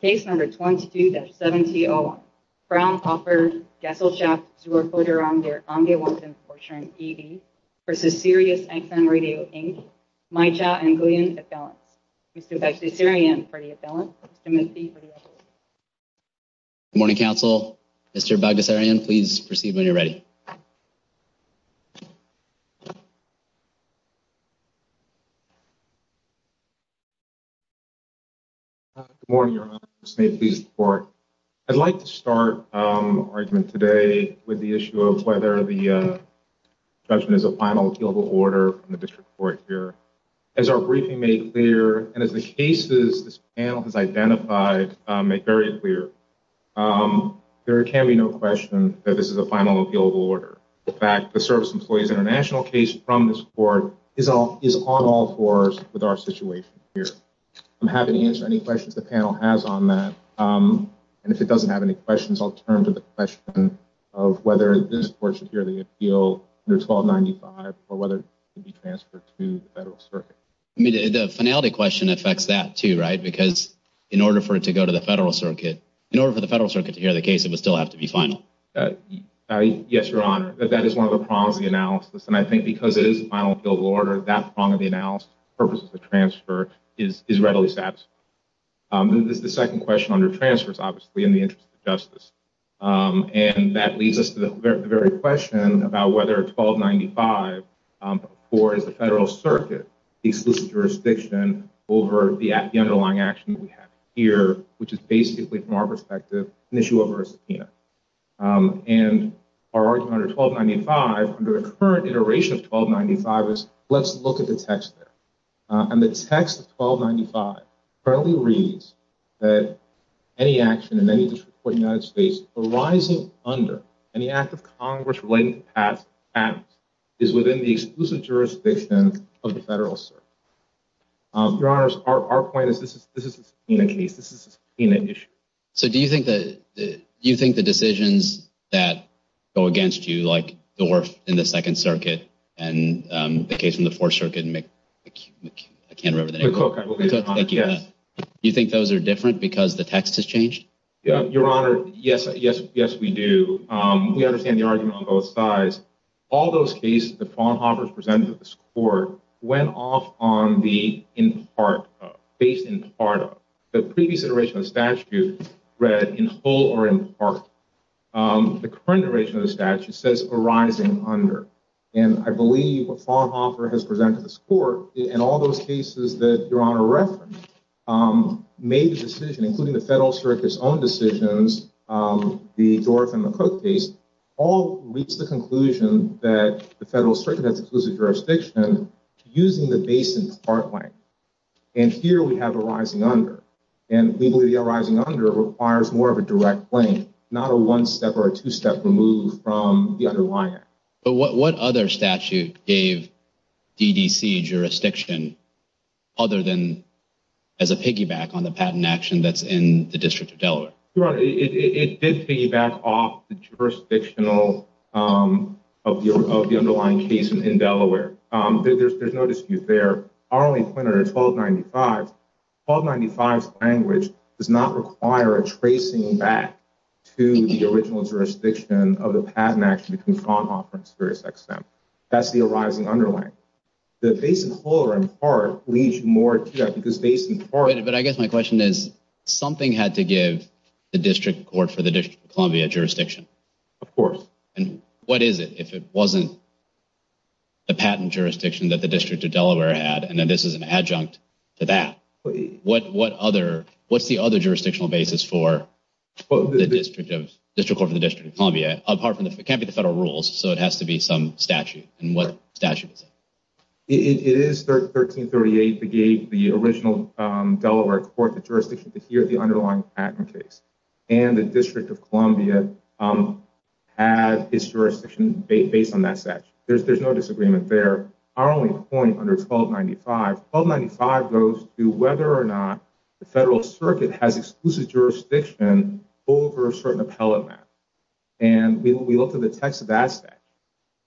Case number 22-7T01, Fraunhofer-Gesellschaft Zur Forderung Der Angewand v. Sirius XM Radio Inc, Maija and Guillen Affelants. Mr. Bagdasarian for the affelants, Mr. Murphy for the affelants. Good morning, Council. Mr. Bagdasarian, please proceed when you're ready. Good morning, Your Honor. I'd like to start our argument today with the issue of whether the judgment is a final appealable order from the District Court here. As our briefing made clear, and as the cases this panel has identified make very clear, there can be no question that this is a final appealable order. In fact, the Service Employees International case from this court is on all fours with our situation here. I'm happy to answer any questions the panel has on that. And if it doesn't have any questions, I'll turn to the question of whether this court should hear the appeal under 1295 or whether it should be transferred to the Federal Circuit. I mean, the finality question affects that too, right? Because in order for it to go to the Federal Circuit, in order for the Federal Circuit to hear the case, it would still have to be final. Yes, Your Honor. That is one of the prongs of the analysis. And I think because it is a final appealable order, that prong of the analysis, the purpose of the transfer, is readily satisfied. This is the second question under transfers, obviously, in the interest of justice. And that leads us to the very question about whether 1295, or is the Federal Circuit, the exclusive jurisdiction over the underlying action that we have here, which is basically, from our perspective, an issue over a subpoena. And our argument under 1295, under the current iteration of 1295, is let's look at the text there. And the text of 1295 currently reads that any action in any district court in the United States arising under any act of Congress relating to past patents is within the exclusive jurisdiction of the Federal Circuit. Your Honors, our point is this is a subpoena case. This is a subpoena issue. So do you think the decisions that go against you, like the wharf in the Second Circuit, and the case in the Fourth Circuit, I can't remember the name of it. McCook, I believe. You think those are different because the text has changed? Your Honor, yes, we do. We understand the argument on both sides. All those cases that Fraunhofer has presented to this court went off on the in part of, based in part of. The previous iteration of the statute read in whole or in part. The current iteration of the statute says arising under. And I believe what Fraunhofer has presented to this court, and all those cases that Your Honor referenced, made the decision, including the Federal Circuit's own decisions, the wharf and the Cook case, all reached the conclusion that the Federal Circuit has exclusive jurisdiction using the base in part length. And here we have arising under. And we believe the arising under requires more of a direct length, not a one step or a two step remove from the underlying act. But what other statute gave DDC jurisdiction other than as a piggyback on the patent action that's in the District of Delaware? Your Honor, it did piggyback off the jurisdictional of the underlying case in Delaware. There's no dispute there. Our only pointer is 1295. 1295's language does not require a tracing back to the original jurisdiction of the patent action between Fraunhofer and Sirius XM. That's the arising under length. The base in whole or in part leads you more to that because base in part. But I guess my question is, something had to give the District Court for the District of Columbia jurisdiction. Of course. And what is it if it wasn't the patent jurisdiction that the District of Delaware had? And then this is an adjunct to that. What's the other jurisdictional basis for the District Court for the District of Columbia? It can't be the federal rules, so it has to be some statute. And what statute is it? It is 1338 that gave the original Delaware Court the jurisdiction to hear the underlying patent case. And the District of Columbia had its jurisdiction based on that statute. There's no disagreement there. Our only point under 1295, 1295 goes to whether or not the federal circuit has exclusive jurisdiction over certain appellate matters. And we looked at the text of that statute.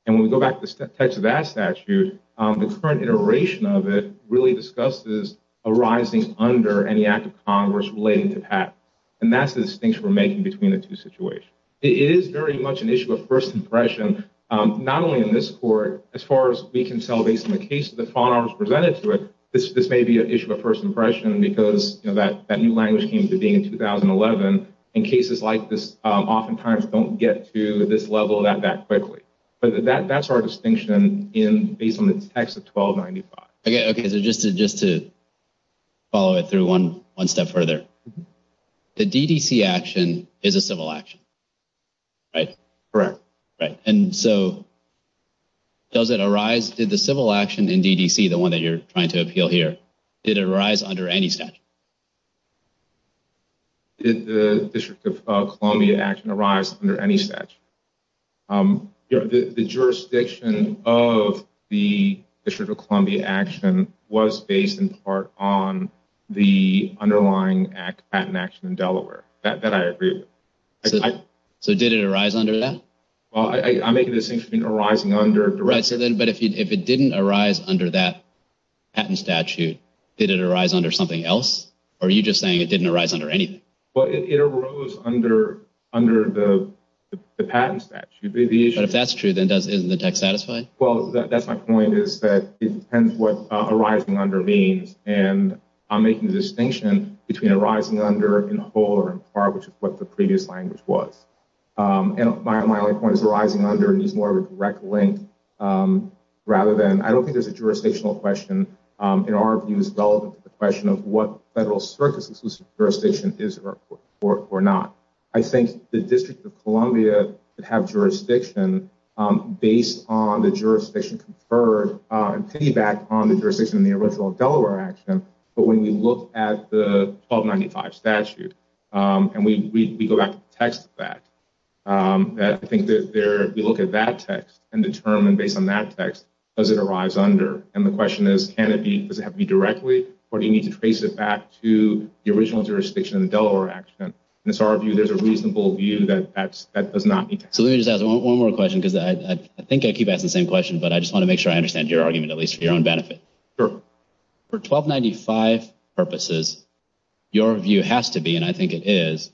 And when we go back to the text of that statute, the current iteration of it really discusses arising under any act of Congress relating to patent. And that's the distinction we're making between the two situations. It is very much an issue of first impression. Not only in this court. As far as we can tell based on the case of the fallen arms presented to it, this may be an issue of first impression because that new language came to being in 2011. And cases like this oftentimes don't get to this level that quickly. But that's our distinction based on the text of 1295. Okay. So just to follow it through one step further, the DDC action is a civil action, right? Correct. Right. And so does it arise? Did the civil action in DDC, the one that you're trying to appeal here, did it arise under any statute? Did the District of Columbia action arise under any statute? The jurisdiction of the District of Columbia action was based in part on the underlying patent action in Delaware. That I agree with. So did it arise under that? I'm making the distinction between arising under. But if it didn't arise under that patent statute, did it arise under something else? Or are you just saying it didn't arise under anything? Well, it arose under the patent statute. But if that's true, then isn't the text satisfying? Well, that's my point is that it depends what arising under means. And I'm making the distinction between arising under in whole or in part, which is what the previous language was. And my only point is arising under needs more of a direct link rather than, I don't think there's a jurisdictional question. In our view, it's relevant to the question of what federal circumstances jurisdiction is or not. I think the District of Columbia would have jurisdiction based on the jurisdiction conferred and piggybacked on the jurisdiction in the original Delaware action. But when we look at the 1295 statute, and we go back to the text of that, I think we look at that text and determine based on that text, does it arise under? And the question is, does it have to be directly, or do you need to trace it back to the original jurisdiction in the Delaware action? In our view, there's a reasonable view that that does not need to happen. So let me just ask one more question, because I think I keep asking the same question, but I just want to make sure I understand your argument, at least for your own benefit. Sure. For 1295 purposes, your view has to be, and I think it is,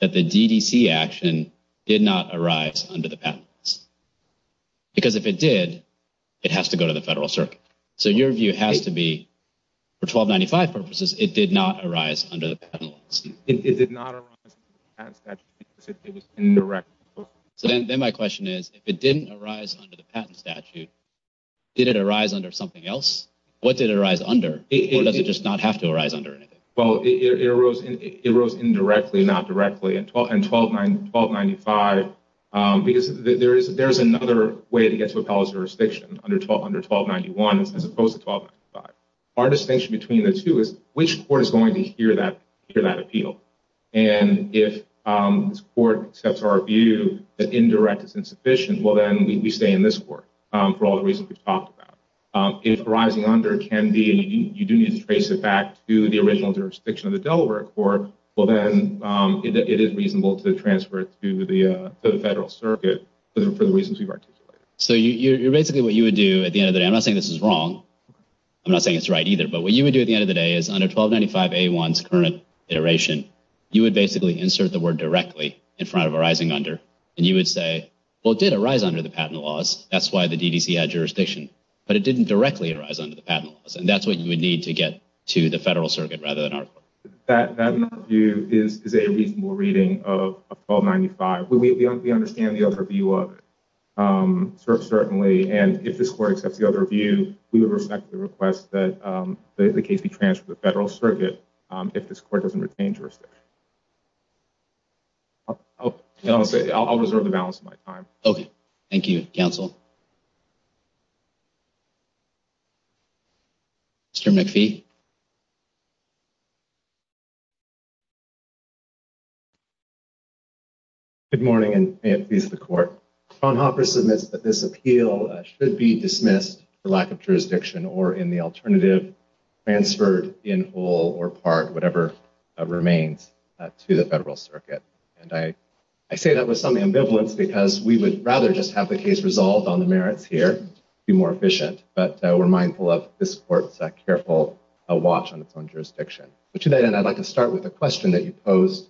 that the DDC action did not arise under the patent laws. Because if it did, it has to go to the federal circuit. So your view has to be, for 1295 purposes, it did not arise under the patent laws. It did not arise under the patent statute because it was indirect. So then my question is, if it didn't arise under the patent statute, did it arise under something else? What did it arise under? Or does it just not have to arise under anything? Well, it arose indirectly, not directly. And 1295, because there is another way to get to appellate jurisdiction under 1291, as opposed to 1295. Our distinction between the two is, which court is going to hear that appeal? And if this court accepts our view that indirect is insufficient, well, then we stay in this court for all the reasons we've talked about. If arising under can be, you do need to trace it back to the original jurisdiction of the Delaware court, well, then it is reasonable to transfer it to the federal circuit for the reasons we've articulated. So basically what you would do at the end of the day, I'm not saying this is wrong, I'm not saying it's right either, but what you would do at the end of the day is under 1295A1's current iteration, you would basically insert the word directly in front of arising under, and you would say, well, it did arise under the patent laws, that's why the DDC had jurisdiction, but it didn't directly arise under the patent laws, and that's what you would need to get to the federal circuit rather than our court. That view is a reasonable reading of 1295. We understand the other view of it, certainly, and if this court accepts the other view, we would respect the request that the case be transferred to the federal circuit if this court doesn't retain jurisdiction. I'll reserve the balance of my time. Okay. Thank you, counsel. Mr. McPhee. Thank you, Your Honor. Fraunhofer submits that this appeal should be dismissed for lack of jurisdiction or, in the alternative, transferred in whole or part, whatever remains, to the federal circuit. And I say that with some ambivalence because we would rather just have the case resolved on the merits here, be more efficient, but we're mindful of this court's careful watch on its own jurisdiction. But to that end, I'd like to start with a question that you posed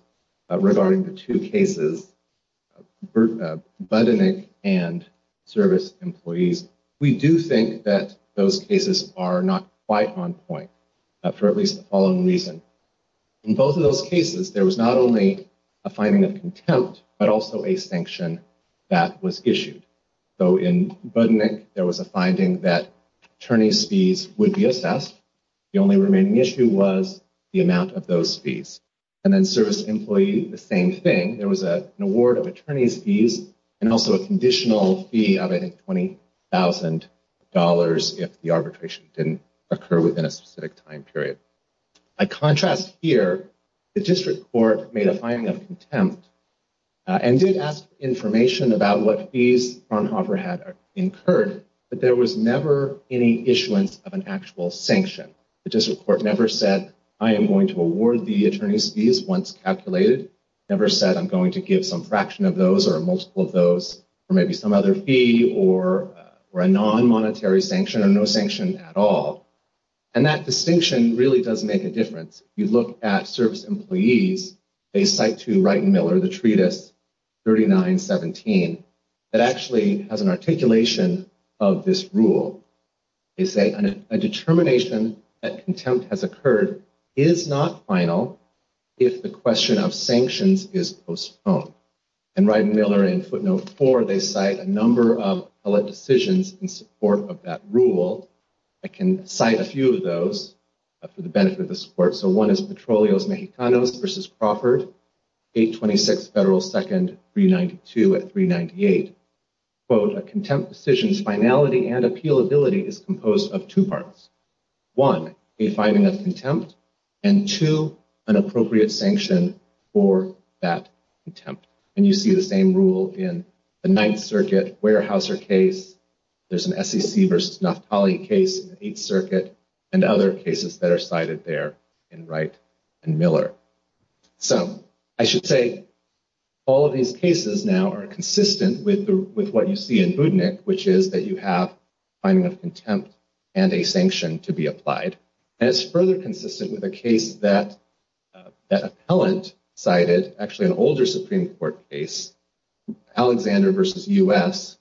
regarding the two cases, Budenik and service employees. We do think that those cases are not quite on point for at least the following reason. In both of those cases, there was not only a finding of contempt, but also a sanction that was issued. So in Budenik, there was a finding that attorney's fees would be assessed. The only remaining issue was the amount of those fees. And then service employee, the same thing. There was an award of attorney's fees and also a conditional fee of, I think, $20,000 if the arbitration didn't occur within a specific time period. By contrast here, the district court made a finding of contempt and did ask information about what fees Fraunhofer had incurred, but there was never any issuance of an actual sanction. The district court never said, I am going to award the attorney's fees once calculated, never said I'm going to give some fraction of those or a multiple of those or maybe some other fee or a non-monetary sanction or no sanction at all. And that distinction really does make a difference. You look at service employees, they cite to Wright and Miller the treatise 3917 that actually has an articulation of this rule. They say a determination that contempt has occurred is not final if the question of sanctions is postponed. And Wright and Miller in footnote four, they cite a number of public decisions in support of that rule. I can cite a few of those for the benefit of the support. So one is Petrolios Mexicanos versus Crawford, 826 Federal 2nd, 392 at 398. Quote, a contempt decision's finality and appealability is composed of two parts. One, a finding of contempt and two, an appropriate sanction for that contempt. And you see the same rule in the Ninth Circuit Weyerhaeuser case. There's an SEC versus Naftali case in the Eighth Circuit and other cases that are cited there in Wright and Miller. So I should say all of these cases now are consistent with what you see in Budnik, which is that you have finding of contempt and a sanction to be applied. And it's further consistent with a case that an appellant cited, actually an older Supreme Court case, Alexander versus U.S.,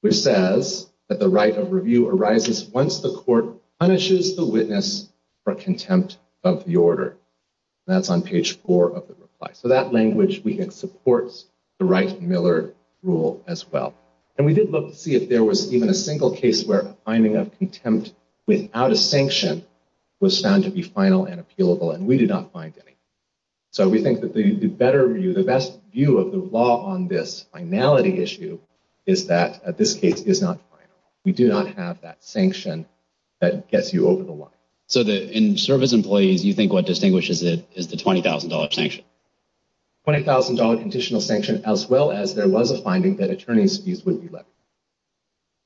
which says that the right of review arises once the court punishes the witness for contempt of the order. That's on page four of the reply. So that language, we think, supports the Wright and Miller rule as well. And we did look to see if there was even a single case where a finding of contempt without a sanction was found to be final and appealable, and we did not find any. So we think that the better view, the best view of the law on this finality issue is that this case is not final. We do not have that sanction that gets you over the line. So in service employees, you think what distinguishes it is the $20,000 sanction? $20,000 additional sanction, as well as there was a finding that attorneys' fees would be levied.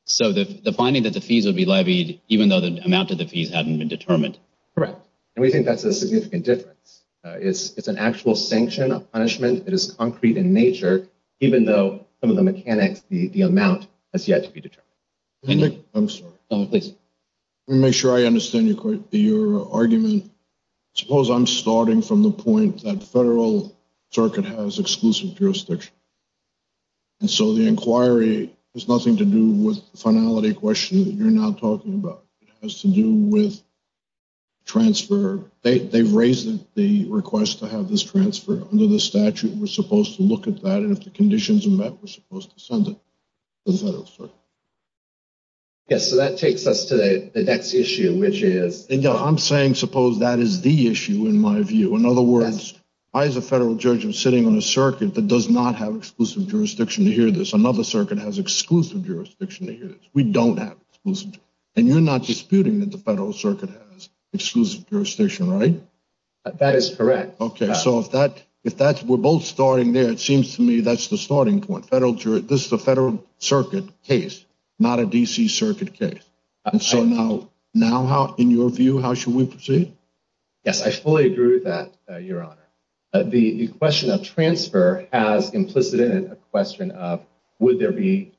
So the finding that the fees would be levied, even though the amount of the fees hadn't been determined? Correct. And we think that's a significant difference. It's an actual sanction, a punishment that is concrete in nature, even though some of the mechanics, the amount, has yet to be determined. I'm sorry. Please. Let me make sure I understand your argument. Suppose I'm starting from the point that federal circuit has exclusive jurisdiction. And so the inquiry has nothing to do with the finality question that you're now talking about. It has to do with transfer. They've raised the request to have this transferred under the statute. We're supposed to look at that. And if the conditions are met, we're supposed to send it to the federal circuit. Yes, so that takes us to the next issue, which is? I'm saying suppose that is the issue, in my view. In other words, I, as a federal judge, am sitting on a circuit that does not have exclusive jurisdiction to hear this. Another circuit has exclusive jurisdiction to hear this. We don't have exclusive jurisdiction. And you're not disputing that the federal circuit has exclusive jurisdiction, right? That is correct. Okay, so if that we're both starting there, it seems to me that's the starting point. This is a federal circuit case, not a D.C. circuit case. And so now, in your view, how should we proceed? Yes, I fully agree with that, Your Honor. The question of transfer has implicit in it a question of would there be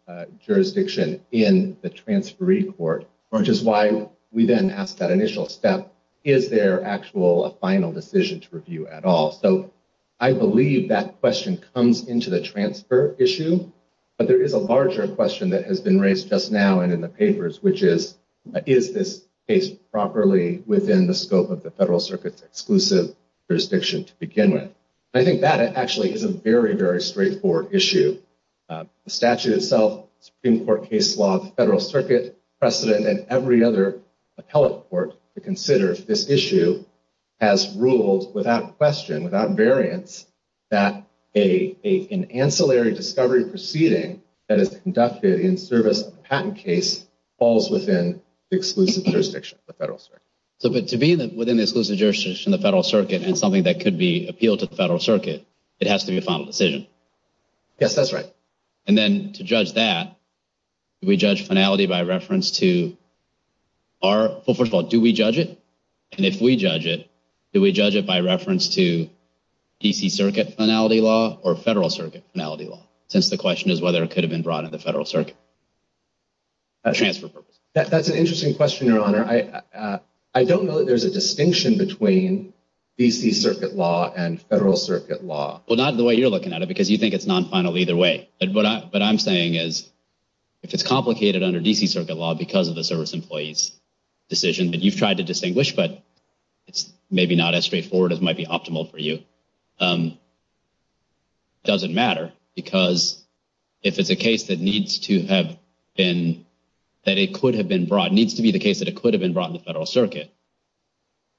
jurisdiction in the transferee court, which is why we then ask that initial step, is there actual a final decision to review at all? So I believe that question comes into the transfer issue. But there is a larger question that has been raised just now and in the papers, which is, is this case properly within the scope of the federal circuit's exclusive jurisdiction to begin with? I think that actually is a very, very straightforward issue. The statute itself, Supreme Court case law, the federal circuit precedent, and every other appellate court to consider this issue has ruled without question, without variance, that an ancillary discovery proceeding that is conducted in service of a patent case falls within the exclusive jurisdiction of the federal circuit. So to be within the exclusive jurisdiction of the federal circuit and something that could be appealed to the federal circuit, it has to be a final decision? Yes, that's right. And then to judge that, do we judge finality by reference to our – well, first of all, do we judge it? And if we judge it, do we judge it by reference to D.C. Circuit finality law or federal circuit finality law, since the question is whether it could have been brought into the federal circuit? That's an interesting question, Your Honor. I don't know that there's a distinction between D.C. Circuit law and federal circuit law. Well, not the way you're looking at it because you think it's non-final either way. But what I'm saying is if it's complicated under D.C. Circuit law because of the service employee's decision that you've tried to distinguish but it's maybe not as straightforward as might be optimal for you, it doesn't matter because if it's a case that needs to have been – that it could have been brought, needs to be the case that it could have been brought in the federal circuit,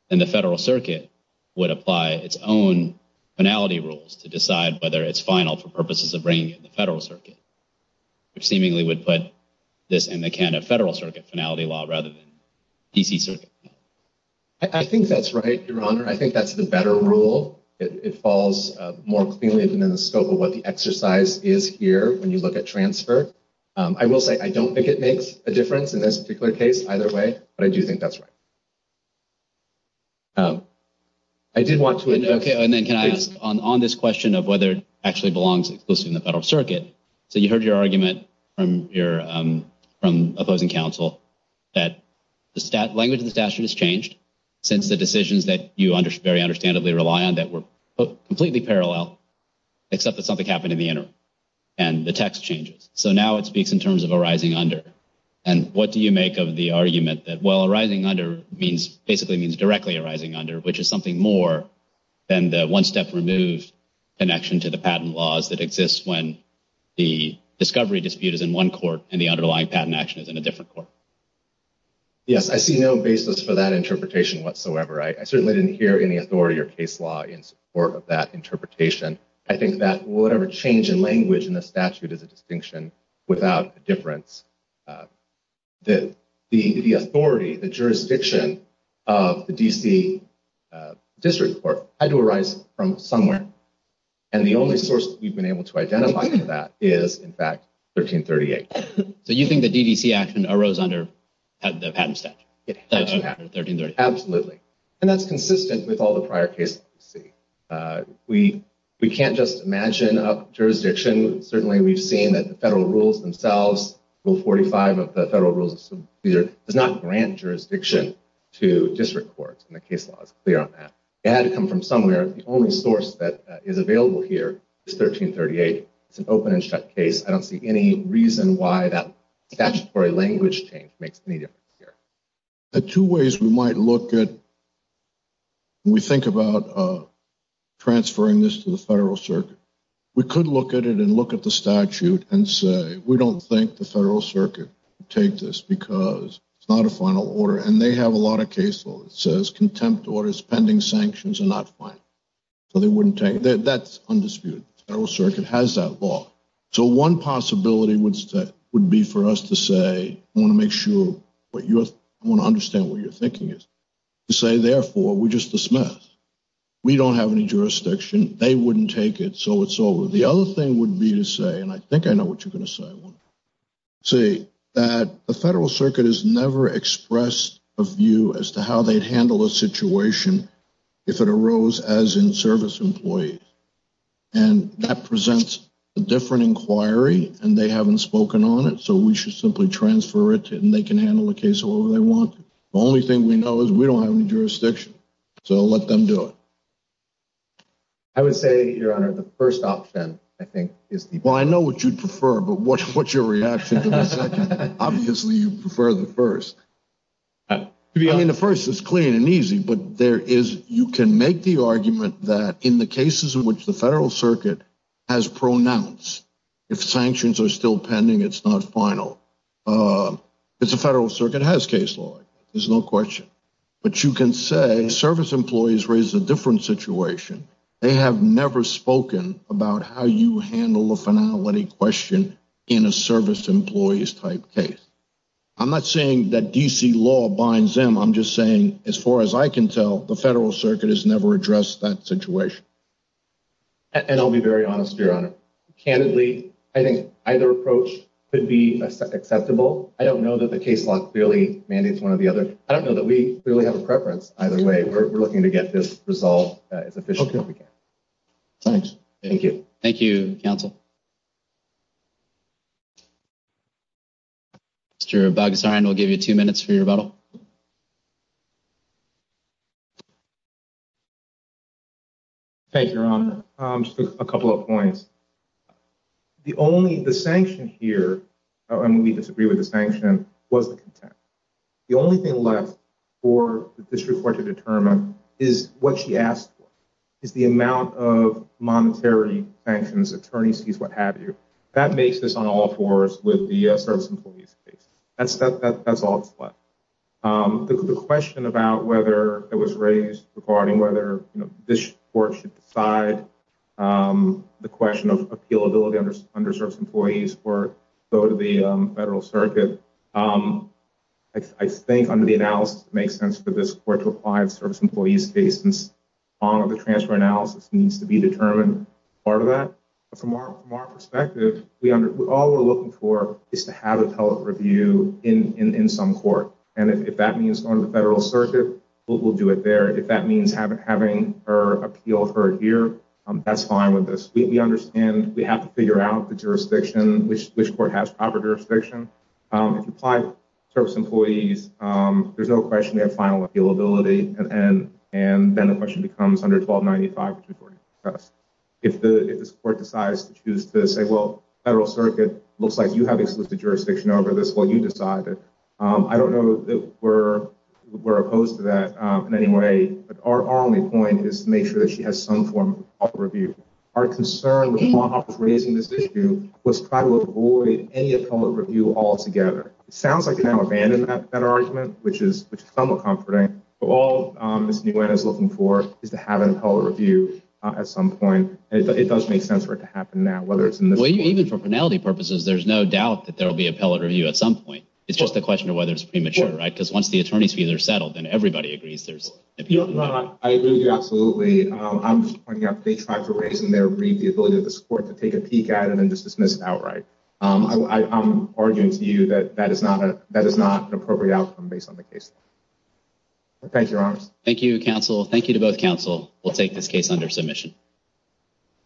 then the federal circuit would apply its own finality rules to decide whether it's final for purposes of bringing it in the federal circuit, which seemingly would put this in the can of federal circuit finality law rather than D.C. Circuit. I think that's right, Your Honor. I think that's the better rule. It falls more cleanly within the scope of what the exercise is here when you look at transfer. I will say I don't think it makes a difference in this particular case either way, but I do think that's right. I did want to – Okay, and then can I ask on this question of whether it actually belongs exclusively in the federal circuit, so you heard your argument from opposing counsel that the language of the statute has changed since the decisions that you very understandably rely on that were completely parallel except that something happened in the interim and the text changes. So now it speaks in terms of arising under. And what do you make of the argument that, well, arising under basically means directly arising under, which is something more than the one-step remove connection to the patent laws that exists when the discovery dispute is in one court and the underlying patent action is in a different court? Yes, I see no basis for that interpretation whatsoever. I certainly didn't hear any authority or case law in support of that interpretation. I think that whatever change in language in the statute is a distinction without a difference. The authority, the jurisdiction of the D.C. District Court had to arise from somewhere, and the only source we've been able to identify for that is, in fact, 1338. So you think the D.D.C. action arose under the patent statute? Yes, absolutely. And that's consistent with all the prior cases we see. We can't just imagine a jurisdiction. Certainly we've seen that the federal rules themselves, Rule 45 of the Federal Rules of Subdivision, does not grant jurisdiction to district courts, and the case law is clear on that. It had to come from somewhere. The only source that is available here is 1338. It's an open-and-shut case. I don't see any reason why that statutory language change makes any difference here. There are two ways we might look at when we think about transferring this to the federal circuit. We could look at it and look at the statute and say, we don't think the federal circuit would take this because it's not a final order, and they have a lot of case law that says contempt orders, pending sanctions are not final. So they wouldn't take it. That's undisputed. The federal circuit has that law. So one possibility would be for us to say, I want to understand what you're thinking, to say, therefore, we just dismiss. We don't have any jurisdiction. They wouldn't take it, so it's over. The other thing would be to say, and I think I know what you're going to say, that the federal circuit has never expressed a view as to how they'd handle a situation if it arose as in-service employees. And that presents a different inquiry, and they haven't spoken on it, so we should simply transfer it, and they can handle the case however they want to. The only thing we know is we don't have any jurisdiction, so let them do it. I would say, Your Honor, the first option, I think, is the best. Well, I know what you'd prefer, but what's your reaction to the second? Obviously, you'd prefer the first. I mean, the first is clean and easy, but you can make the argument that in the cases in which the federal circuit has pronounced, if sanctions are still pending, it's not final. If the federal circuit has case law, there's no question. But you can say service employees raise a different situation. They have never spoken about how you handle a finality question in a service employees-type case. I'm not saying that D.C. law binds them. I'm just saying, as far as I can tell, the federal circuit has never addressed that situation. And I'll be very honest, Your Honor. Candidly, I think either approach could be acceptable. I don't know that the case law clearly mandates one or the other. I don't know that we really have a preference either way. We're looking to get this resolved as efficiently as we can. Thanks. Thank you. Thank you, counsel. Mr. Bagasarian, I'll give you two minutes for your rebuttal. Thank you, Your Honor. Just a couple of points. The only—the sanction here, and we disagree with the sanction, was the contempt. The only thing left for the district court to determine is what she asked for, is the amount of monetary sanctions, attorneys fees, what have you. That makes this on all fours with the service employees case. That's all that's left. The question about whether it was raised regarding whether this court should decide the question of appealability under service employees or go to the federal circuit, I think under the analysis it makes sense for this court to apply the service employees case. The transfer analysis needs to be determined as part of that. From our perspective, all we're looking for is to have a public review in some court. If that means going to the federal circuit, we'll do it there. If that means having her appeal for a year, that's fine with us. We understand we have to figure out the jurisdiction, which court has proper jurisdiction. If you apply to service employees, there's no question they have final appealability. And then the question becomes under 1295, which we've already discussed. If this court decides to choose to say, well, federal circuit, looks like you have exclusive jurisdiction over this, well, you decide. I don't know that we're opposed to that in any way, but our only point is to make sure that she has some form of review. Our concern with raising this issue was to try to avoid any appellate review altogether. It sounds like you've now abandoned that argument, which is somewhat comforting. All Ms. Nguyen is looking for is to have an appellate review at some point. It does make sense for it to happen now, whether it's in this court. Even for penalty purposes, there's no doubt that there will be appellate review at some point. It's just a question of whether it's premature, right? Because once the attorney's fees are settled, then everybody agrees there's appealability. I agree with you absolutely. I'm pointing out that they tried to raise and they agreed the ability of this court to take a peek at it and just dismiss it outright. I'm arguing to you that that is not an appropriate outcome based on the case law. Thank you, Your Honors. Thank you, counsel. Thank you to both counsel. We'll take this case under submission.